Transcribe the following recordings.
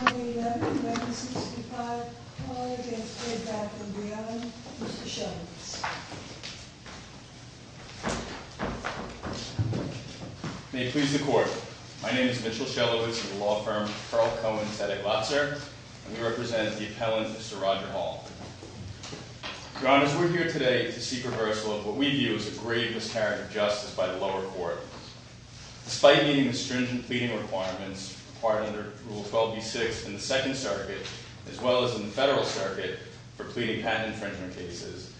On the 11th of May 1965, the lawyer against Bed Bath & Beyond, Mr. Shelowitz. May it please the Court. My name is Mitchell Shelowitz of the law firm Carl Cohen Sedeglazer, and we represent the appellant, Mr. Roger Hall. Your Honors, we're here today to seek rehearsal of what we view as a grave miscarriage of justice by the lower court. Despite meeting the stringent pleading requirements required under Rule 12b-6 in the Second Circuit, as well as in the Federal Circuit for pleading patent infringement cases,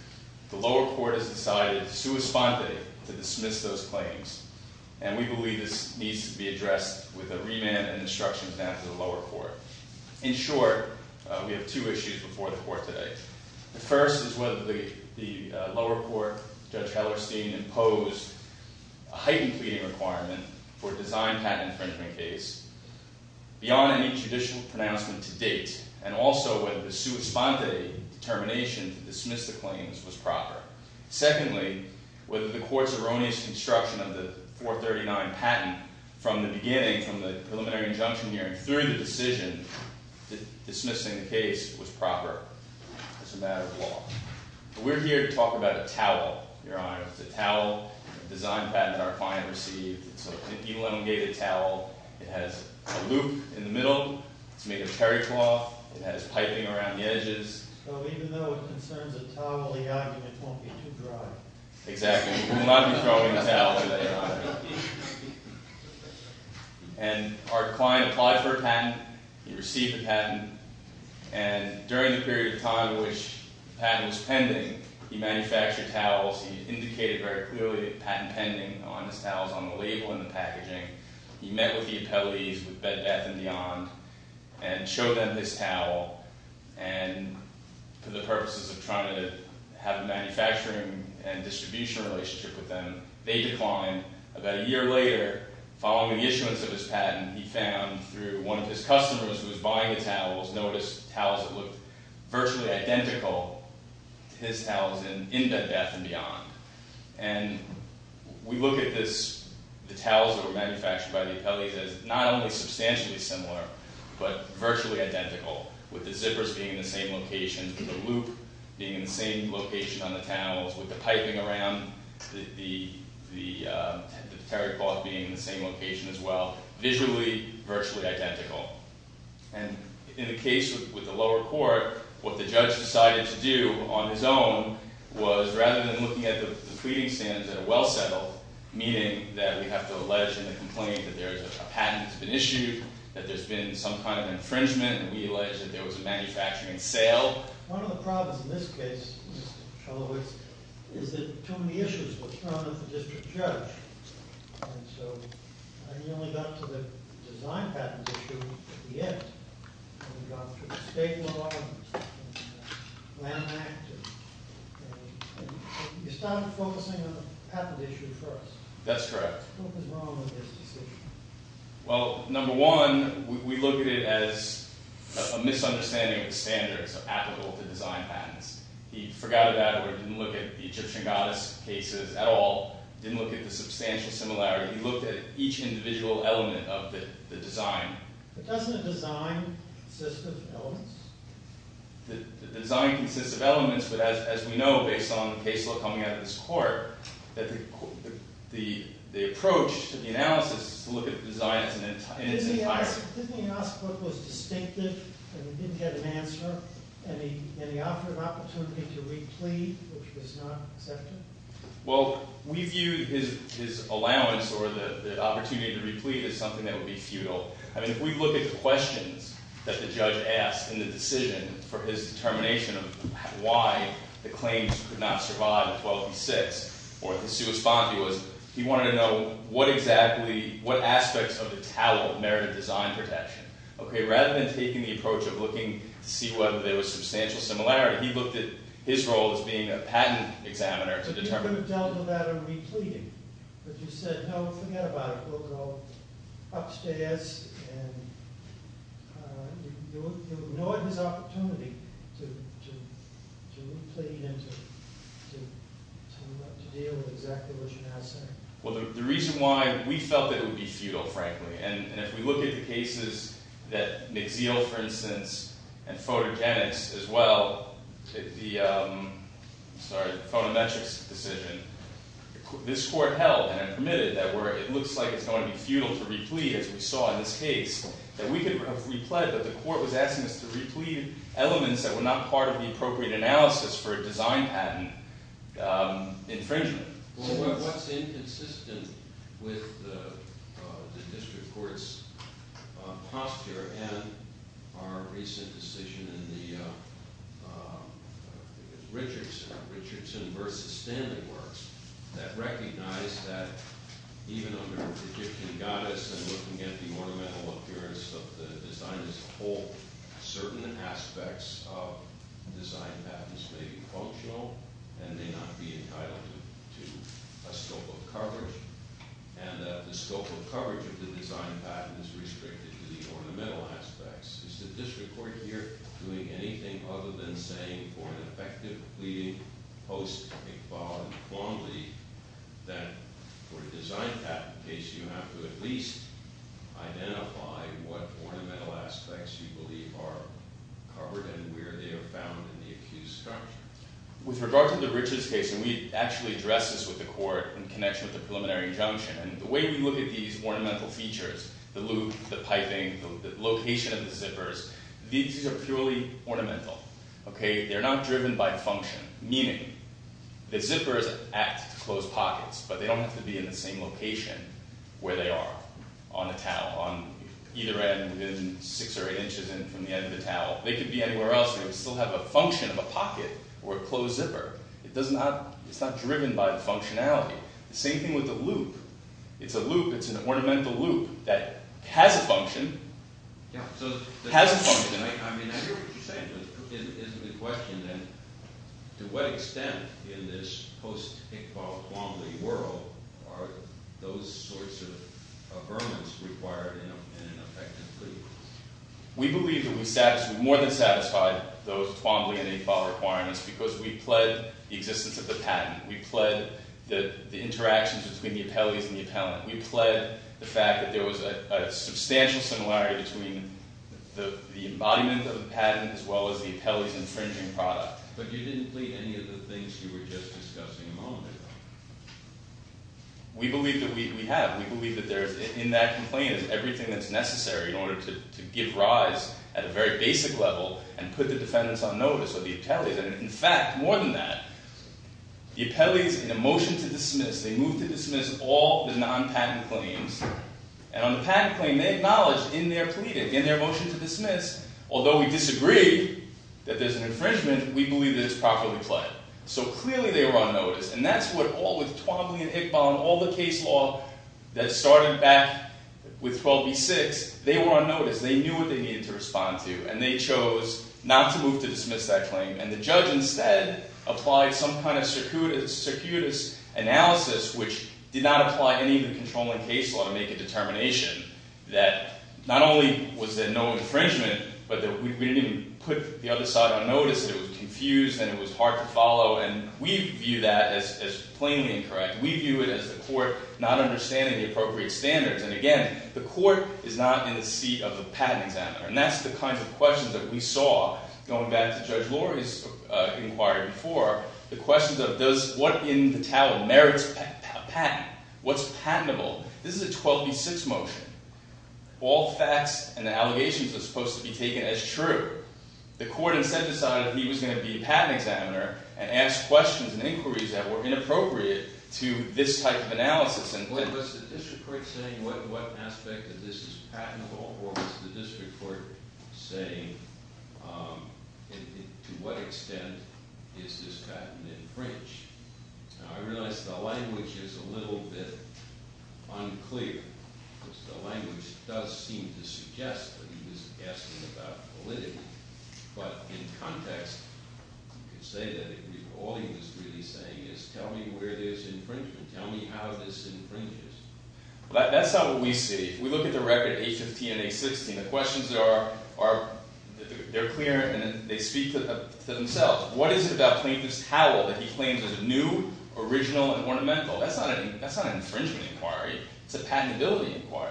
the lower court has decided, sua sponte, to dismiss those claims. And we believe this needs to be addressed with a remand and an instruction from the lower court. In short, we have two issues before the Court today. The first is whether the lower court, Judge Hellerstein, imposed a heightened pleading requirement for a design patent infringement case, beyond any judicial pronouncement to date, and also whether the sua sponte determination to dismiss the claims was proper. Secondly, whether the Court's erroneous construction of the 439 patent from the beginning, from the preliminary injunction hearing, during the decision, dismissing the case was proper. It's a matter of law. We're here to talk about a towel, Your Honors. It's a towel, a design patent our client received. It's an elongated towel. It has a loop in the middle to make a peri cloth. It has piping around the edges. So even though it concerns a towel, the argument won't be too dry. Exactly. We will not be throwing a towel today, Your Honor. And our client applied for a patent. He received a patent. And during the period of time in which the patent was pending, he manufactured towels. He indicated very clearly a patent pending on his towels on the label and the packaging. He met with the appellees with Bed Bath & Beyond and showed them this towel. And for the purposes of trying to have a manufacturing and distribution relationship with them, they declined. About a year later, following the issuance of his patent, he found through one of his customers who was buying the towels, noticed towels that looked virtually identical to his towels in Bed Bath & Beyond. And we look at the towels that were manufactured by the appellees as not only substantially similar, but virtually identical, with the zippers being in the same location, the loop being in the same location on the towels, with the piping around the terry cloth being in the same location as well. Visually, virtually identical. And in the case with the lower court, what the judge decided to do on his own was, rather than looking at the tweeting standards at a well-settled meeting, that we have to allege in the complaint that there is a patent that's been issued, that there's been some kind of infringement, and we allege that there was a manufacturing sale. Well, one of the problems in this case, Mr. Cholowicz, is that too many issues were thrown at the district judge. And so, I nearly got to the design patent issue at the end, and got through the state law and land act, and you started focusing on the patent issue first. That's correct. What was wrong with this decision? Well, number one, we look at it as a misunderstanding of the standards applicable to design patents. He forgot about it, didn't look at the Egyptian goddess cases at all, didn't look at the substantial similarity. He looked at each individual element of the design. But doesn't a design consist of elements? The design consists of elements, but as we know, based on the case law coming out of this court, the approach to the analysis is to look at the design in its entirety. Didn't he ask what was distinctive, and he didn't get an answer, and he offered an opportunity to re-plead, which was not accepted? Well, we view his allowance or the opportunity to re-plead as something that would be futile. I mean, if we look at the questions that the judge asked in the decision for his determination of why the claims could not survive in 12b-6 or the sua spondi was, he wanted to know what exactly, what aspects of the talent merited design protection. Okay, rather than taking the approach of looking to see whether there was substantial similarity, he looked at his role as being a patent examiner to determine. But you could have dealt with that and re-pleaded, but you said, no, forget about it, we'll go upstairs and you'll ignore his opportunity to re-plead and to deal with exactly what you're now saying. Well, the reason why we felt that it would be futile, frankly, and if we look at the cases that McZeel, for instance, and photogenics as well, the, sorry, photometrics decision, this court held and permitted that it looks like it's going to be futile to re-plead, as we saw in this case, that we could have re-pled, that the court was asking us to re-plead elements that were not part of the appropriate analysis for a design patent infringement. Well, what's inconsistent with the district court's posture and our recent decision in the Richardson versus Stanley works that recognized that even under the Egyptian goddess and looking at the ornamental appearance of the design as a whole, certain aspects of design patents may be functional and may not be entitled to a scope of coverage. And the scope of coverage of the design patent is restricted to the ornamental aspects. Is the district court here doing anything other than saying that if you're looking for an effective pleading post, I think, bar and plumbly, then for a design patent case, you have to at least identify what ornamental aspects you believe are covered and where they are found in the accused structure. With regard to the Richards case, and we actually addressed this with the court in connection with the preliminary injunction, and the way we look at these ornamental features, the loop, the piping, the location of the zippers, these are purely ornamental. They're not driven by function, meaning the zippers act as closed pockets, but they don't have to be in the same location where they are on the towel, on either end, within six or eight inches from the end of the towel. They could be anywhere else, but they still have a function of a pocket or a closed zipper. It's not driven by functionality. The same thing with the loop. It's a loop. It's an ornamental loop that has a function, has a function. I mean, I hear what you're saying, but is the question, then, to what extent in this post-Iqbal, Twombly world are those sorts of ornaments required in an effective case? We believe that we more than satisfied those Twombly and Iqbal requirements because we pled the existence of the patent. We pled the interactions between the appellees and the appellant. We pled the fact that there was a substantial similarity between the embodiment of the patent as well as the appellee's infringing product. But you didn't plead any of the things you were just discussing a moment ago. We believe that we have. We believe that in that complaint is everything that's necessary in order to give rise at a very basic level and put the defendants on notice or the appellees. And, in fact, more than that, the appellees, in a motion to dismiss, they move to dismiss all the non-patent claims. And on the patent claim, they acknowledge in their pleading, in their motion to dismiss, although we disagree that there's an infringement, we believe that it's properly pled. So, clearly, they were on notice. And that's what all with Twombly and Iqbal and all the case law that started back with 12b-6. They were on notice. They knew what they needed to respond to. And they chose not to move to dismiss that claim. And the judge, instead, applied some kind of circuitous analysis, which did not apply any of the controlling case law to make a determination that not only was there no infringement, but that we didn't even put the other side on notice, that it was confused and it was hard to follow. And we view that as plainly incorrect. We view it as the court not understanding the appropriate standards. And, again, the court is not in the seat of the patent examiner. And that's the kind of questions that we saw, going back to Judge Lori's inquiry before, the questions of what in the talent merits a patent? What's patentable? This is a 12b-6 motion. All facts and the allegations are supposed to be taken as true. The court, instead, decided he was going to be a patent examiner and ask questions and inquiries that were inappropriate to this type of analysis. Was the district court saying what aspect of this is patentable? Or was the district court saying to what extent is this patent infringed? Now, I realize the language is a little bit unclear. The language does seem to suggest that he was asking about validity. But in context, you could say that all he was really saying is, tell me where there's infringement. Tell me how this infringes. That's not what we see. If we look at the record 815 and 816, the questions that are clear and they speak to themselves. What is it about plaintiff's talent that he claims is new, original, and ornamental? That's not an infringement inquiry. It's a patentability inquiry.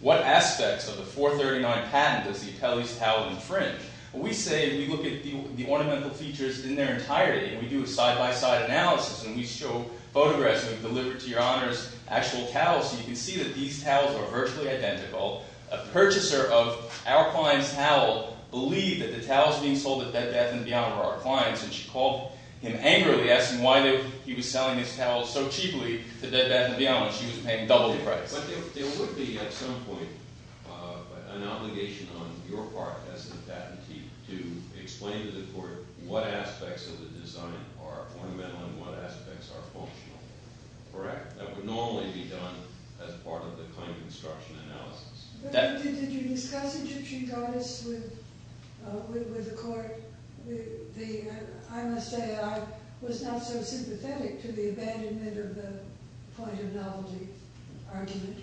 What aspects of the 439 patent does the appellee's talent infringe? We say, if we look at the ornamental features in their entirety, and we do a side-by-side analysis, and we show photographs, and we've delivered to your honors actual towels, you can see that these towels are virtually identical. A purchaser of our client's towel believed that the towels being sold at Bed Bath & Beyond were our client's. And she called him angrily, asking why he was selling his towels so cheaply to Bed Bath & Beyond when she was paying double the price. But there would be, at some point, an obligation on your part as the patentee to explain to the court what aspects of the design are ornamental and what aspects are functional. Correct? That would normally be done as part of the claim construction analysis. But did you discuss it with the court? I must say, I was not so sympathetic to the abandonment of the point of novelty argument.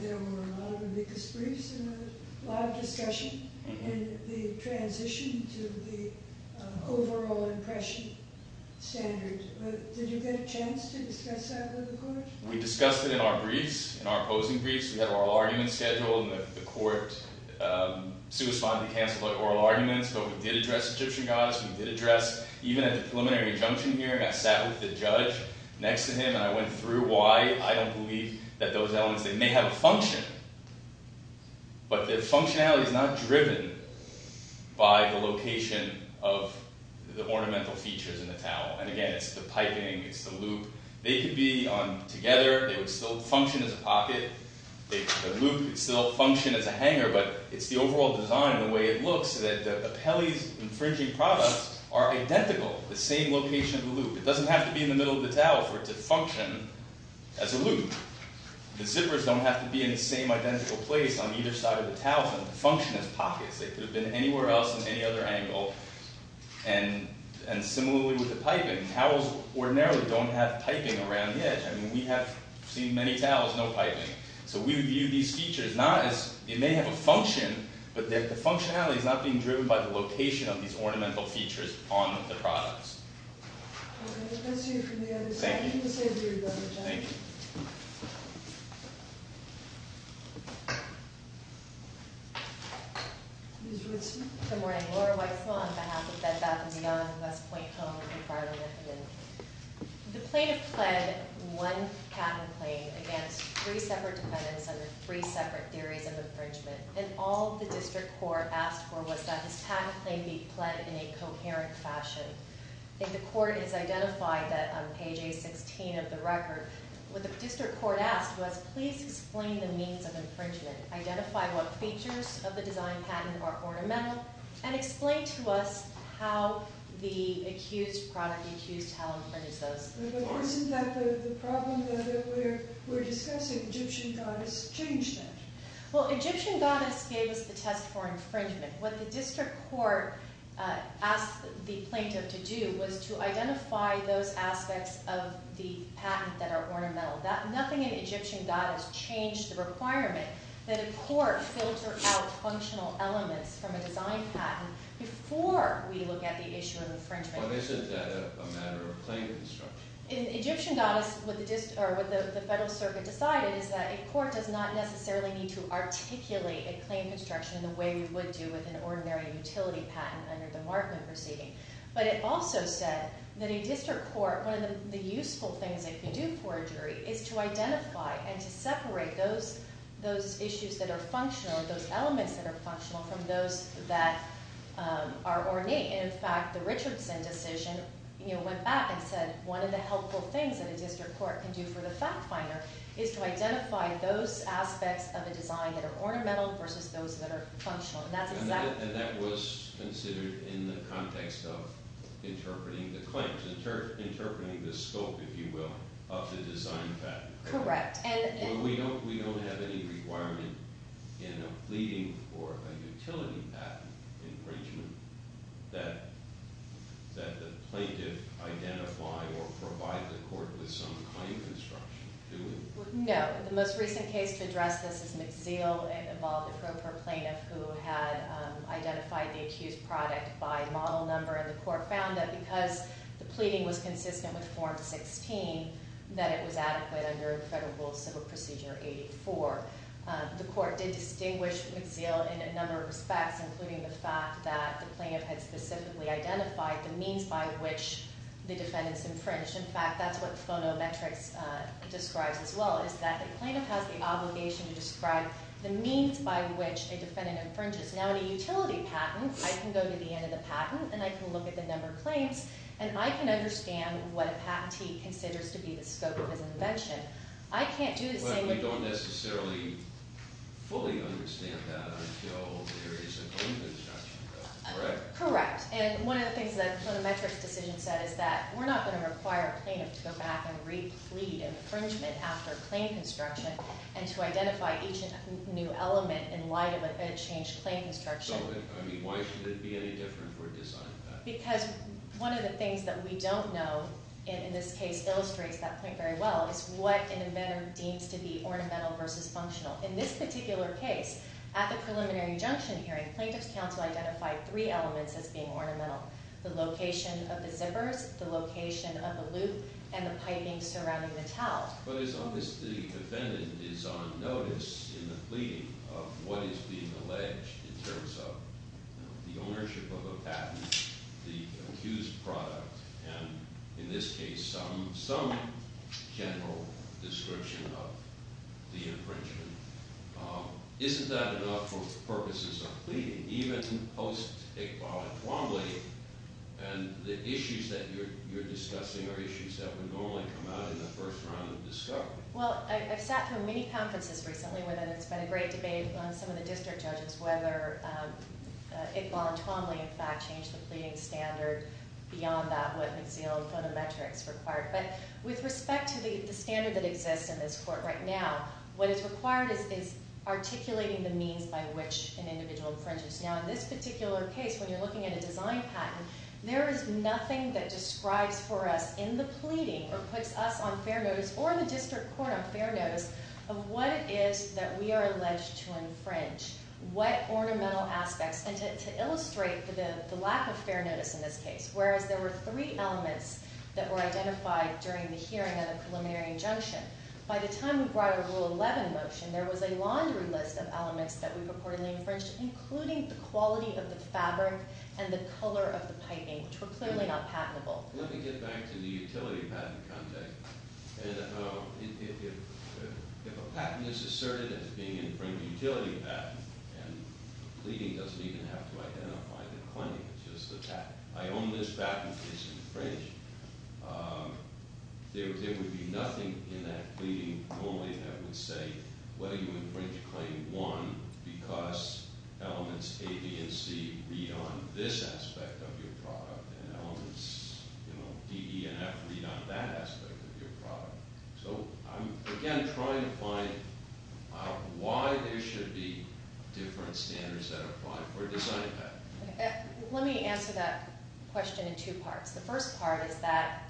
There were a lot of ambiguous briefs and a lot of discussion. And the transition to the overall impression standard. But did you get a chance to discuss that with the court? We discussed it in our briefs, in our opposing briefs. We had oral arguments scheduled, and the court suicidally canceled our oral arguments. But we did address Egyptian goddess. We did address, even at the preliminary injunction hearing, I sat with the judge next to him, and I went through why I don't believe that those elements, they may have a function. But their functionality is not driven by the location of the ornamental features in the towel. And again, it's the piping, it's the loop. They could be together, they would still function as a pocket. The loop would still function as a hanger, but it's the overall design, the way it looks, that the Pele's infringing products are identical, the same location of the loop. It doesn't have to be in the middle of the towel for it to function as a loop. The zippers don't have to be in the same identical place on either side of the towel for them to function as pockets. They could have been anywhere else in any other angle. And similarly with the piping, towels ordinarily don't have piping around the edge. I mean, we have seen many towels, no piping. So we view these features not as, they may have a function, but the functionality is not being driven by the location of these ornamental features on the products. Okay, let's hear from the other side. Thank you. Thank you. Ms. Woodson. Good morning. Laura White Swan, on behalf of Bed Bath & Beyond, West Point Home, and Barlow, Michigan. The plaintiff pled one patent claim against three separate defendants under three separate theories of infringement, and all the district court asked for was that his patent claim be pled in a coherent fashion. The court has identified that on page A16 of the record, what the district court asked was, please explain the means of infringement. Identify what features of the design patent are ornamental, and explain to us how the accused product accused how infringed those. But isn't that the problem that we're discussing? Egyptian goddess changed that. Well, Egyptian goddess gave us the test for infringement. What the district court asked the plaintiff to do was to identify those aspects of the patent that are ornamental. Nothing in Egyptian goddess changed the requirement that a court filter out functional elements from a design patent before we look at the issue of infringement. But isn't that a matter of claim construction? In Egyptian goddess, what the federal circuit decided is that a court does not necessarily need to articulate a claim construction in the way we would do with an ordinary utility patent under the Markman proceeding. But it also said that a district court, one of the useful things they can do for a jury, is to identify and to separate those issues that are functional, those elements that are functional, from those that are ornate. In fact, the Richardson decision went back and said one of the helpful things that a district court can do for the fact finder is to identify those aspects of a design that are ornamental versus those that are functional. And that was considered in the context of interpreting the claims, interpreting the scope, if you will, of the design patent. Correct. We don't have any requirement in a pleading for a utility patent infringement that the plaintiff identify or provide the court with some claim construction, do we? No. The most recent case to address this is McZeal. It involved a pro per plaintiff who had identified the accused product by model number. And the court found that because the pleading was consistent with Form 16, that it was adequate under Federal Rule of Civil Procedure 84. The court did distinguish McZeal in a number of respects, including the fact that the plaintiff had specifically identified the means by which the defendant's infringed. In fact, that's what phonometrics describes as well, is that the plaintiff has the obligation to describe the means by which a defendant infringes. Now, in a utility patent, I can go to the end of the patent, and I can look at the number of claims, and I can understand what a patentee considers to be the scope of his invention. I can't do the same thing… Well, you don't necessarily fully understand that until there is a claim construction, correct? Correct. And one of the things that the phonometrics decision said is that we're not going to require a plaintiff to go back and replead infringement after claim construction and to identify each new element in light of a changed claim construction. So, I mean, why should it be any different for a design patent? Because one of the things that we don't know, and in this case illustrates that point very well, is what an inventor deems to be ornamental versus functional. In this particular case, at the preliminary injunction hearing, plaintiff's counsel identified three elements as being ornamental, the location of the zippers, the location of the loop, and the piping surrounding the towel. But it's obvious the defendant is on notice in the pleading of what is being alleged in terms of the ownership of a patent, the accused product, and, in this case, some general description of the infringement. Isn't that enough for purposes of pleading? Even post-Iqbal and Twombly, and the issues that you're discussing are issues that would normally come out in the first round of discovery. Well, I've sat through many conferences recently where there's been a great debate among some of the district judges whether Iqbal and Twombly, in fact, changed the pleading standard beyond that, what McZeel phonometrics required. But with respect to the standard that exists in this court right now, what is required is articulating the means by which an individual infringes. Now, in this particular case, when you're looking at a design patent, there is nothing that describes for us in the pleading or puts us on fair notice or the district court on fair notice of what it is that we are alleged to infringe, what ornamental aspects. And to illustrate the lack of fair notice in this case, whereas there were three elements that were identified during the hearing of the preliminary injunction, by the time we brought a Rule 11 motion, there was a laundry list of elements that we purportedly infringed, including the quality of the fabric and the color of the piping, which were clearly not patentable. Let me get back to the utility patent context. If a patent is asserted as being an infringed utility patent, and the pleading doesn't even have to identify the claim, it's just the patent, I own this patent, it's infringed, there would be nothing in that pleading normally that would say, whether you infringe Claim 1 because elements A, B, and C read on this aspect of your product and elements D, E, and F read on that aspect of your product. So I'm again trying to find out why there should be different standards that apply for a design patent. Let me answer that question in two parts. The first part is that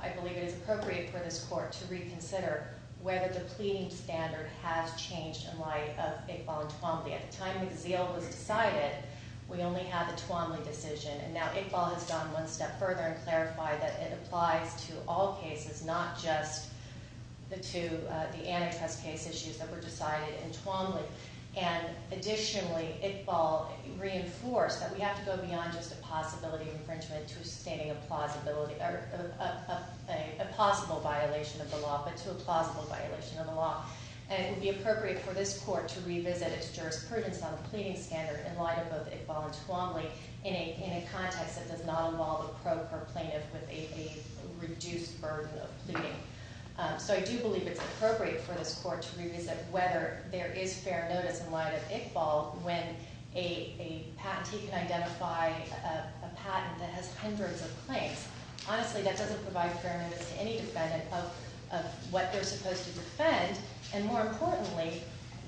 I believe it is appropriate for this court to reconsider whether the pleading standard has changed in light of Iqbal and Tuomly. At the time the zeal was decided, we only had the Tuomly decision. And now Iqbal has gone one step further and clarified that it applies to all cases, not just the two antitrust case issues that were decided in Tuomly. And additionally, Iqbal reinforced that we have to go beyond just a possibility infringement to sustaining a plausible violation of the law. And it would be appropriate for this court to revisit its jurisprudence on the pleading standard in light of both Iqbal and Tuomly in a context that does not involve a probe or plaintiff with a reduced burden of pleading. So I do believe it's appropriate for this court to revisit whether there is fair notice in light of Iqbal when a patentee can identify a patent that has hundreds of claims. Honestly, that doesn't provide fair notice to any defendant of what they're supposed to defend, and more importantly,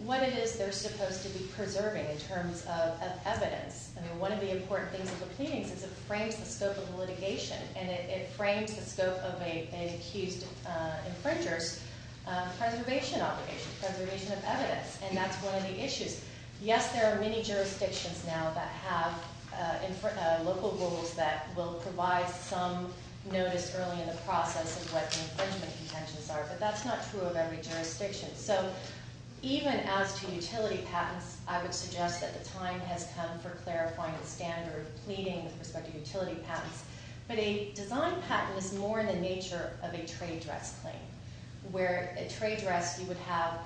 what it is they're supposed to be preserving in terms of evidence. I mean, one of the important things of the pleadings is it frames the scope of the litigation, and it frames the scope of an accused infringer's preservation obligation, preservation of evidence. And that's one of the issues. Yes, there are many jurisdictions now that have local rules that will provide some notice early in the process of what the infringement contentions are, but that's not true of every jurisdiction. So even as to utility patents, I would suggest that the time has come for clarifying the standard of pleading with respect to utility patents. But a design patent is more in the nature of a trade dress claim, where a trade dress, you would have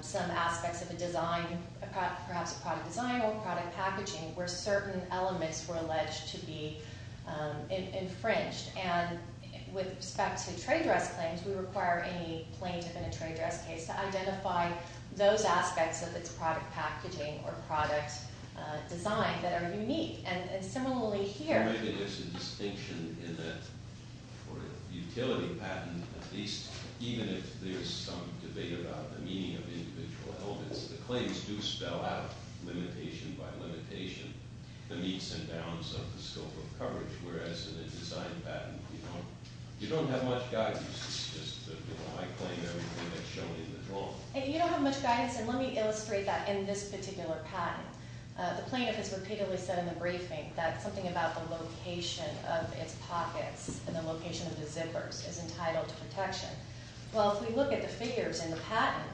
some aspects of a design, perhaps a product design or product packaging, where certain elements were alleged to be infringed. And with respect to trade dress claims, we require any plaintiff in a trade dress case to identify those aspects of its product packaging or product design that are unique. And similarly here— Maybe there's a distinction in that for a utility patent, at least even if there's some debate about the meaning of individual elements, the claims do spell out, limitation by limitation, the meets and bounds of the scope of coverage, whereas in a design patent, you don't have much guidance. It's just that I claim everything that's shown in the rule. You don't have much guidance, and let me illustrate that in this particular patent. The plaintiff has repeatedly said in the briefing that something about the location of its pockets and the location of the zippers is entitled to protection. Well, if we look at the figures in the patent,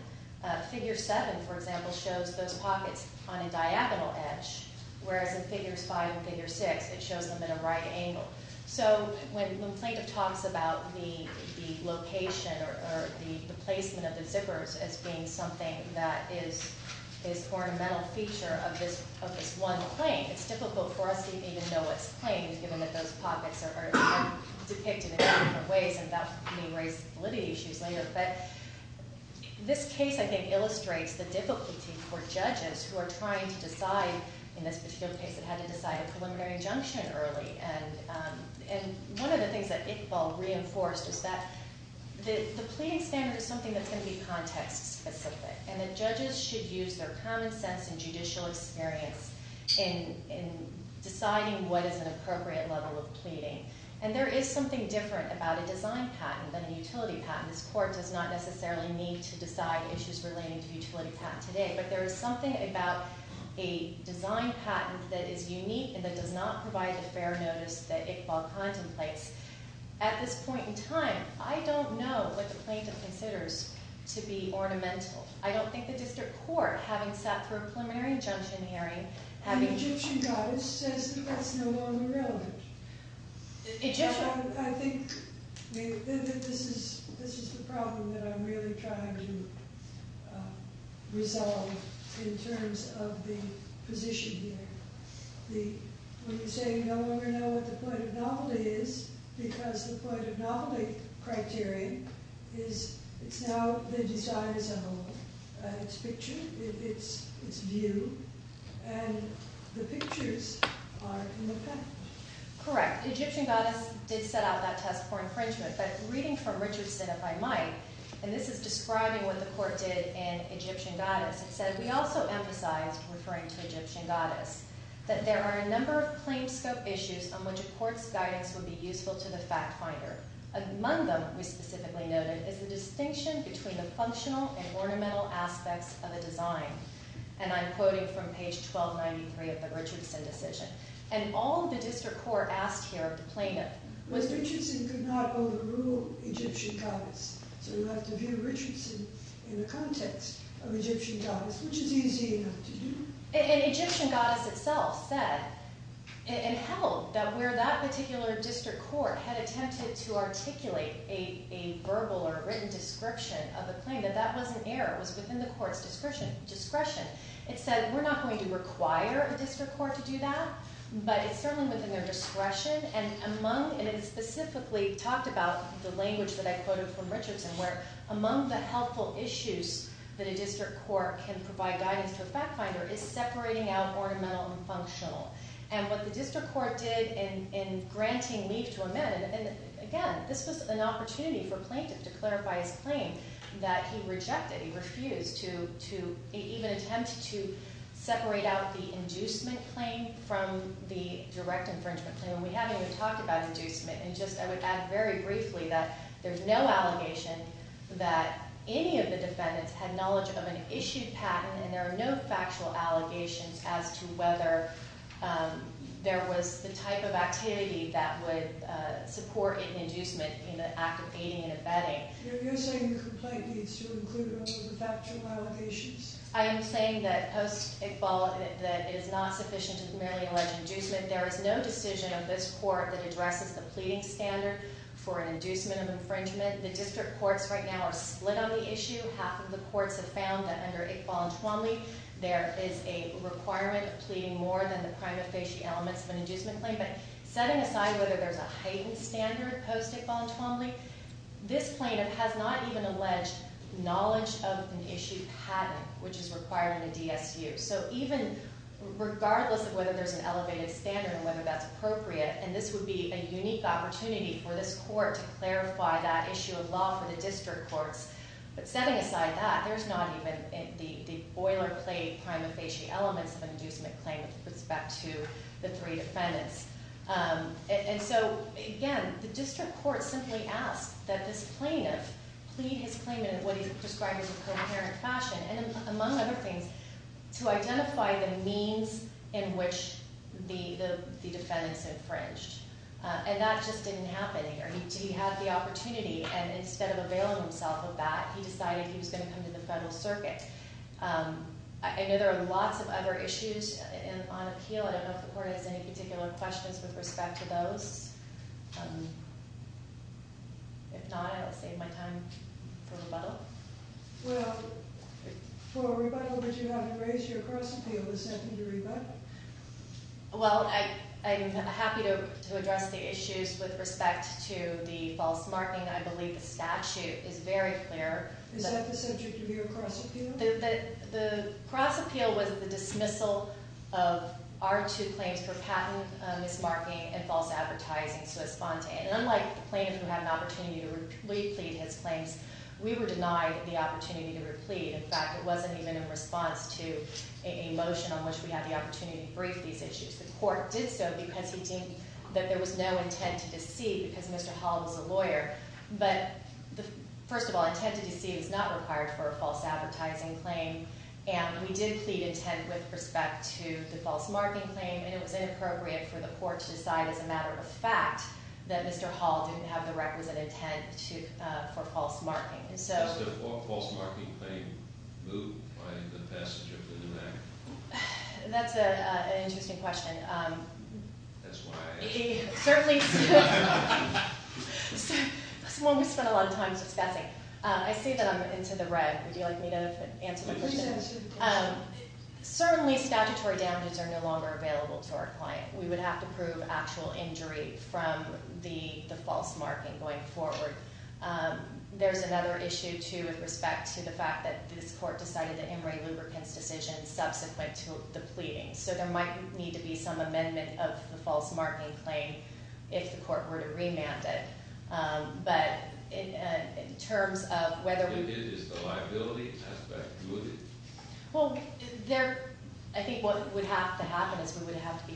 figure 7, for example, shows those pockets on a diagonal edge, whereas in figures 5 and figure 6, it shows them at a right angle. So when the plaintiff talks about the location or the placement of the zippers as being something that is ornamental feature of this one claim, it's difficult for us to even know what's claimed given that those pockets are depicted in different ways, and that may raise validity issues later. But this case, I think, illustrates the difficulty for judges who are trying to decide, in this particular case, they had to decide a preliminary injunction early. And one of the things that Iqbal reinforced is that the pleading standard is something that's going to be context-specific, and that judges should use their common sense and judicial experience in deciding what is an appropriate level of pleading. And there is something different about a design patent than a utility patent. This court does not necessarily need to decide issues relating to utility patents today. But there is something about a design patent that is unique and that does not provide the fair notice that Iqbal contemplates. At this point in time, I don't know what the plaintiff considers to be ornamental. I don't think the district court, having sat through a preliminary injunction hearing, having— I think this is the problem that I'm really trying to resolve in terms of the position here. When you say you no longer know what the point of novelty is, because the point of novelty criteria is now the design as a whole, its picture, its view, and the pictures are in the patent. Correct. Egyptian goddess did set out that test for infringement. But reading from Richardson, if I might, and this is describing what the court did in Egyptian goddess, it said, And we also emphasized, referring to Egyptian goddess, that there are a number of plain scope issues on which a court's guidance would be useful to the fact finder. Among them, we specifically noted, is the distinction between the functional and ornamental aspects of a design. And I'm quoting from page 1293 of the Richardson decision. And all the district court asked here of the plaintiff was— In the context of Egyptian goddess, which is easy enough to do. And Egyptian goddess itself said, and held, that where that particular district court had attempted to articulate a verbal or written description of the claim, that that was an error. It was within the court's discretion. It said, we're not going to require a district court to do that, but it's certainly within their discretion. And it specifically talked about the language that I quoted from Richardson where, Among the helpful issues that a district court can provide guidance to a fact finder is separating out ornamental and functional. And what the district court did in granting leave to amend— And again, this was an opportunity for a plaintiff to clarify his claim that he rejected, he refused to even attempt to separate out the inducement claim from the direct infringement claim. And we haven't even talked about inducement. And just, I would add very briefly that there's no allegation that any of the defendants had knowledge of an issued patent. And there are no factual allegations as to whether there was the type of activity that would support an inducement in the act of aiding and abetting. You're saying the complaint needs to include all of the factual allegations? I am saying that post-Iqbal, that it is not sufficient to merely allege inducement. There is no decision of this court that addresses the pleading standard for an inducement of infringement. The district courts right now are split on the issue. Half of the courts have found that under Iqbal and Twombly, there is a requirement of pleading more than the prima facie elements of an inducement claim. But setting aside whether there's a heightened standard post-Iqbal and Twombly, this plaintiff has not even alleged knowledge of an issued patent, which is required in the DSU. So even regardless of whether there's an elevated standard and whether that's appropriate, and this would be a unique opportunity for this court to clarify that issue of law for the district courts. But setting aside that, there's not even the boilerplate prima facie elements of an inducement claim with respect to the three defendants. And so, again, the district courts simply ask that this plaintiff plead his claim in what he's described as a coherent fashion, and among other things, to identify the means in which the defendants infringed. And that just didn't happen here. He had the opportunity, and instead of availing himself of that, he decided he was going to come to the federal circuit. I know there are lots of other issues on appeal. I don't know if the court has any particular questions with respect to those. If not, I'll save my time for a rebuttal. Well, for a rebuttal, would you have to raise your cross appeal to send him to rebuttal? Well, I'm happy to address the issues with respect to the false marking. I believe the statute is very clear. Is that the subject of your cross appeal? The cross appeal was the dismissal of our two claims for patent mismarking and false advertising, so it's spontaneous. And unlike the plaintiff who had an opportunity to replead his claims, we were denied the opportunity to replead. In fact, it wasn't even in response to a motion on which we had the opportunity to brief these issues. The court did so because he deemed that there was no intent to deceive because Mr. Hall was a lawyer. But first of all, intent to deceive is not required for a false advertising claim. And we did plead intent with respect to the false marking claim, and it was inappropriate for the court to decide as a matter of fact that Mr. Hall didn't have the requisite intent for false marking. Does the false marking claim move by the passage of the new act? That's an interesting question. That's why I asked. Certainly, it's one we spend a lot of time discussing. I see that I'm into the red. Would you like me to answer the question? Certainly, statutory damages are no longer available to our client. We would have to prove actual injury from the false marking going forward. There's another issue, too, with respect to the fact that this court decided that Emory Lubricants' decision subsequent to the pleading. So there might need to be some amendment of the false marking claim if the court were to remand it. But in terms of whether we— If it is the liability aspect, would it? Well, there—I think what would have to happen is we would have to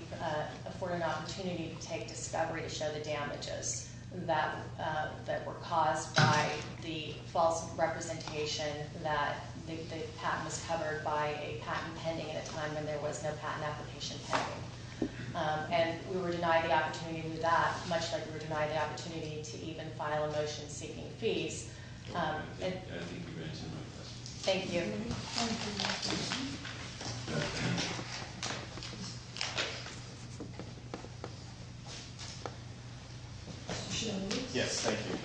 afford an opportunity to take discovery to show the damages that were caused by the false representation that the patent was covered by a patent pending at a time when there was no patent application pending. And we were denied the opportunity to do that, much like we were denied the opportunity to even file a motion seeking fees. I think you've answered my question. Thank you. Yes, thank you.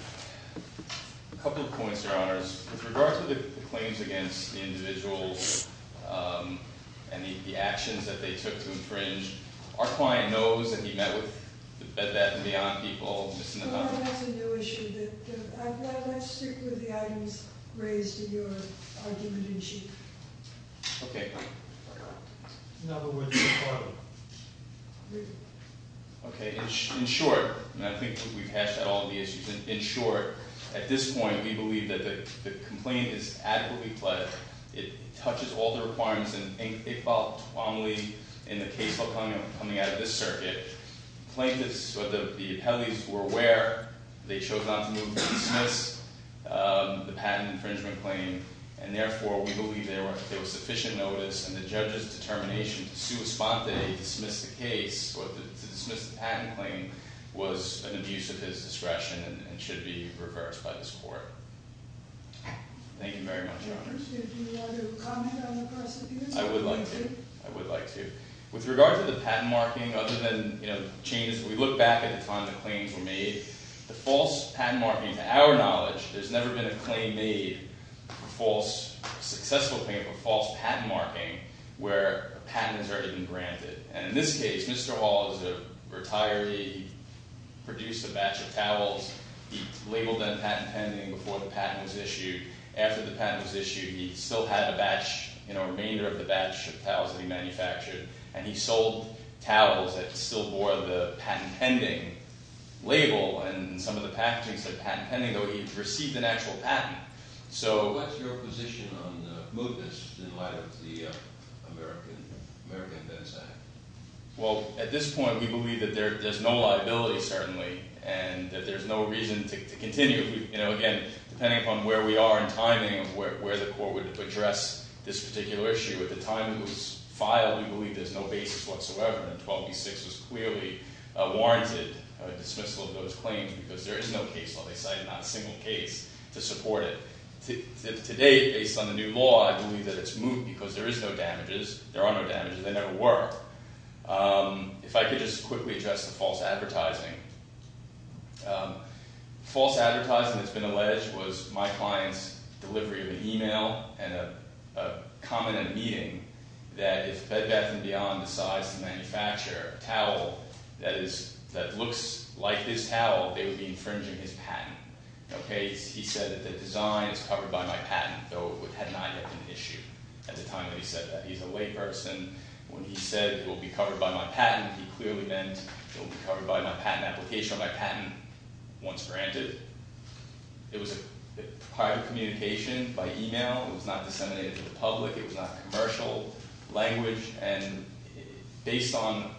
A couple of points, Your Honors. With regard to the claims against the individuals and the actions that they took to infringe, our client knows, and he met with the Bed Bath & Beyond people— Your Honor, that's a new issue. I'd like to stick with the items raised in your argument in chief. Okay. Okay. In short—and I think we've hashed out all of the issues. In short, at this point, we believe that the complaint is adequately pledged. It touches all the requirements and ain't a fault only in the case coming out of this circuit. The plaintiffs, or the appellees, were aware. They chose not to move to dismiss the patent infringement claim, and therefore, we believe there was sufficient notice. And the judge's determination to sua sponte, dismiss the case, or to dismiss the patent claim, was an abuse of his discretion and should be reversed by this court. Thank you very much, Your Honors. I would like to. I would like to. With regard to the patent marking, other than, you know, changes, we look back at the time the claims were made. The false patent marking, to our knowledge, there's never been a claim made, a successful claim, of false patent marking where a patent has already been granted. And in this case, Mr. Hall is a retiree. He produced a batch of towels. He labeled them patent pending before the patent was issued. After the patent was issued, he still had a batch, you know, a remainder of the batch of towels that he manufactured. And he sold towels that still bore the patent pending label. And some of the packaging said patent pending, though he received an actual patent. So what's your position on the mootness in light of the American Defense Act? Well, at this point, we believe that there's no liability, certainly, and that there's no reason to continue. You know, again, depending upon where we are in timing, where the court would address this particular issue, at the time it was filed, we believe there's no basis whatsoever. And 12b-6 was clearly warranted a dismissal of those claims because there is no case law they cited, not a single case, to support it. To date, based on the new law, I believe that it's moot because there is no damages. There are no damages. They never were. If I could just quickly address the false advertising. False advertising, it's been alleged, was my client's delivery of an e-mail and a comment at a meeting that if Bed Bath & Beyond decides to manufacture a towel that looks like this towel, they would be infringing his patent. Okay? He said that the design is covered by my patent, though it had not yet been issued at the time that he said that. He's a layperson. When he said it will be covered by my patent, he clearly meant it will be covered by my patent application or my patent once granted. It was a private communication by e-mail. It was not disseminated to the public. It was not commercial language. And based on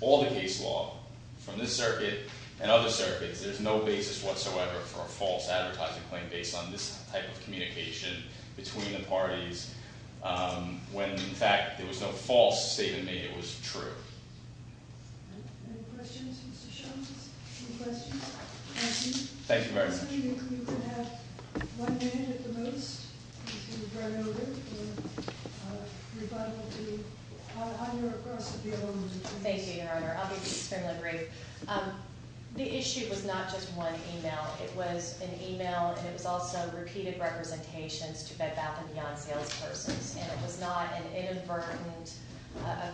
all the case law from this circuit and other circuits, there's no basis whatsoever for a false advertising claim based on this type of communication between the parties. When, in fact, there was no false statement made, it was true. Any questions, Mr. Shultz? Any questions? Thank you. Thank you very much. I'm assuming you could have one minute at the most to run over and rebuttably honor a cross appeal. Thank you, Your Honor. I'll be extremely brief. The issue was not just one e-mail. It was an e-mail, and it was also repeated representations to Bed Bath & Beyond salespersons. And it was not an inadvertent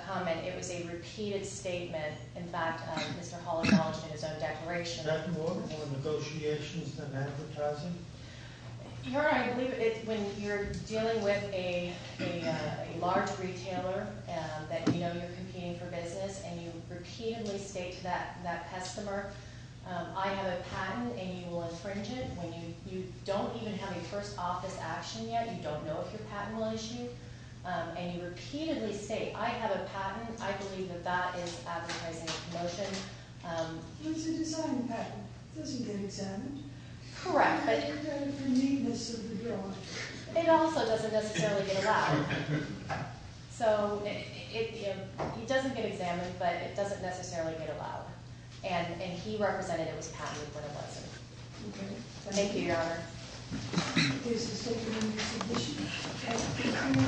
comment. It was a repeated statement. In fact, Mr. Holland lodged in his own declaration. Dr. Moore, more negotiations than advertising? Your Honor, I believe when you're dealing with a large retailer that you know you're competing for business and you repeatedly state to that customer, I have a patent, and you will infringe it. When you don't even have a first office action yet, you don't know if your patent will issue. And you repeatedly say, I have a patent. I believe that that is advertising a promotion. It's a design patent. It doesn't get examined. Correct. It doesn't get examined for neatness of the law. It also doesn't necessarily get allowed. So it doesn't get examined, but it doesn't necessarily get allowed. And he represented it was a patent when it wasn't. Thank you, Your Honor.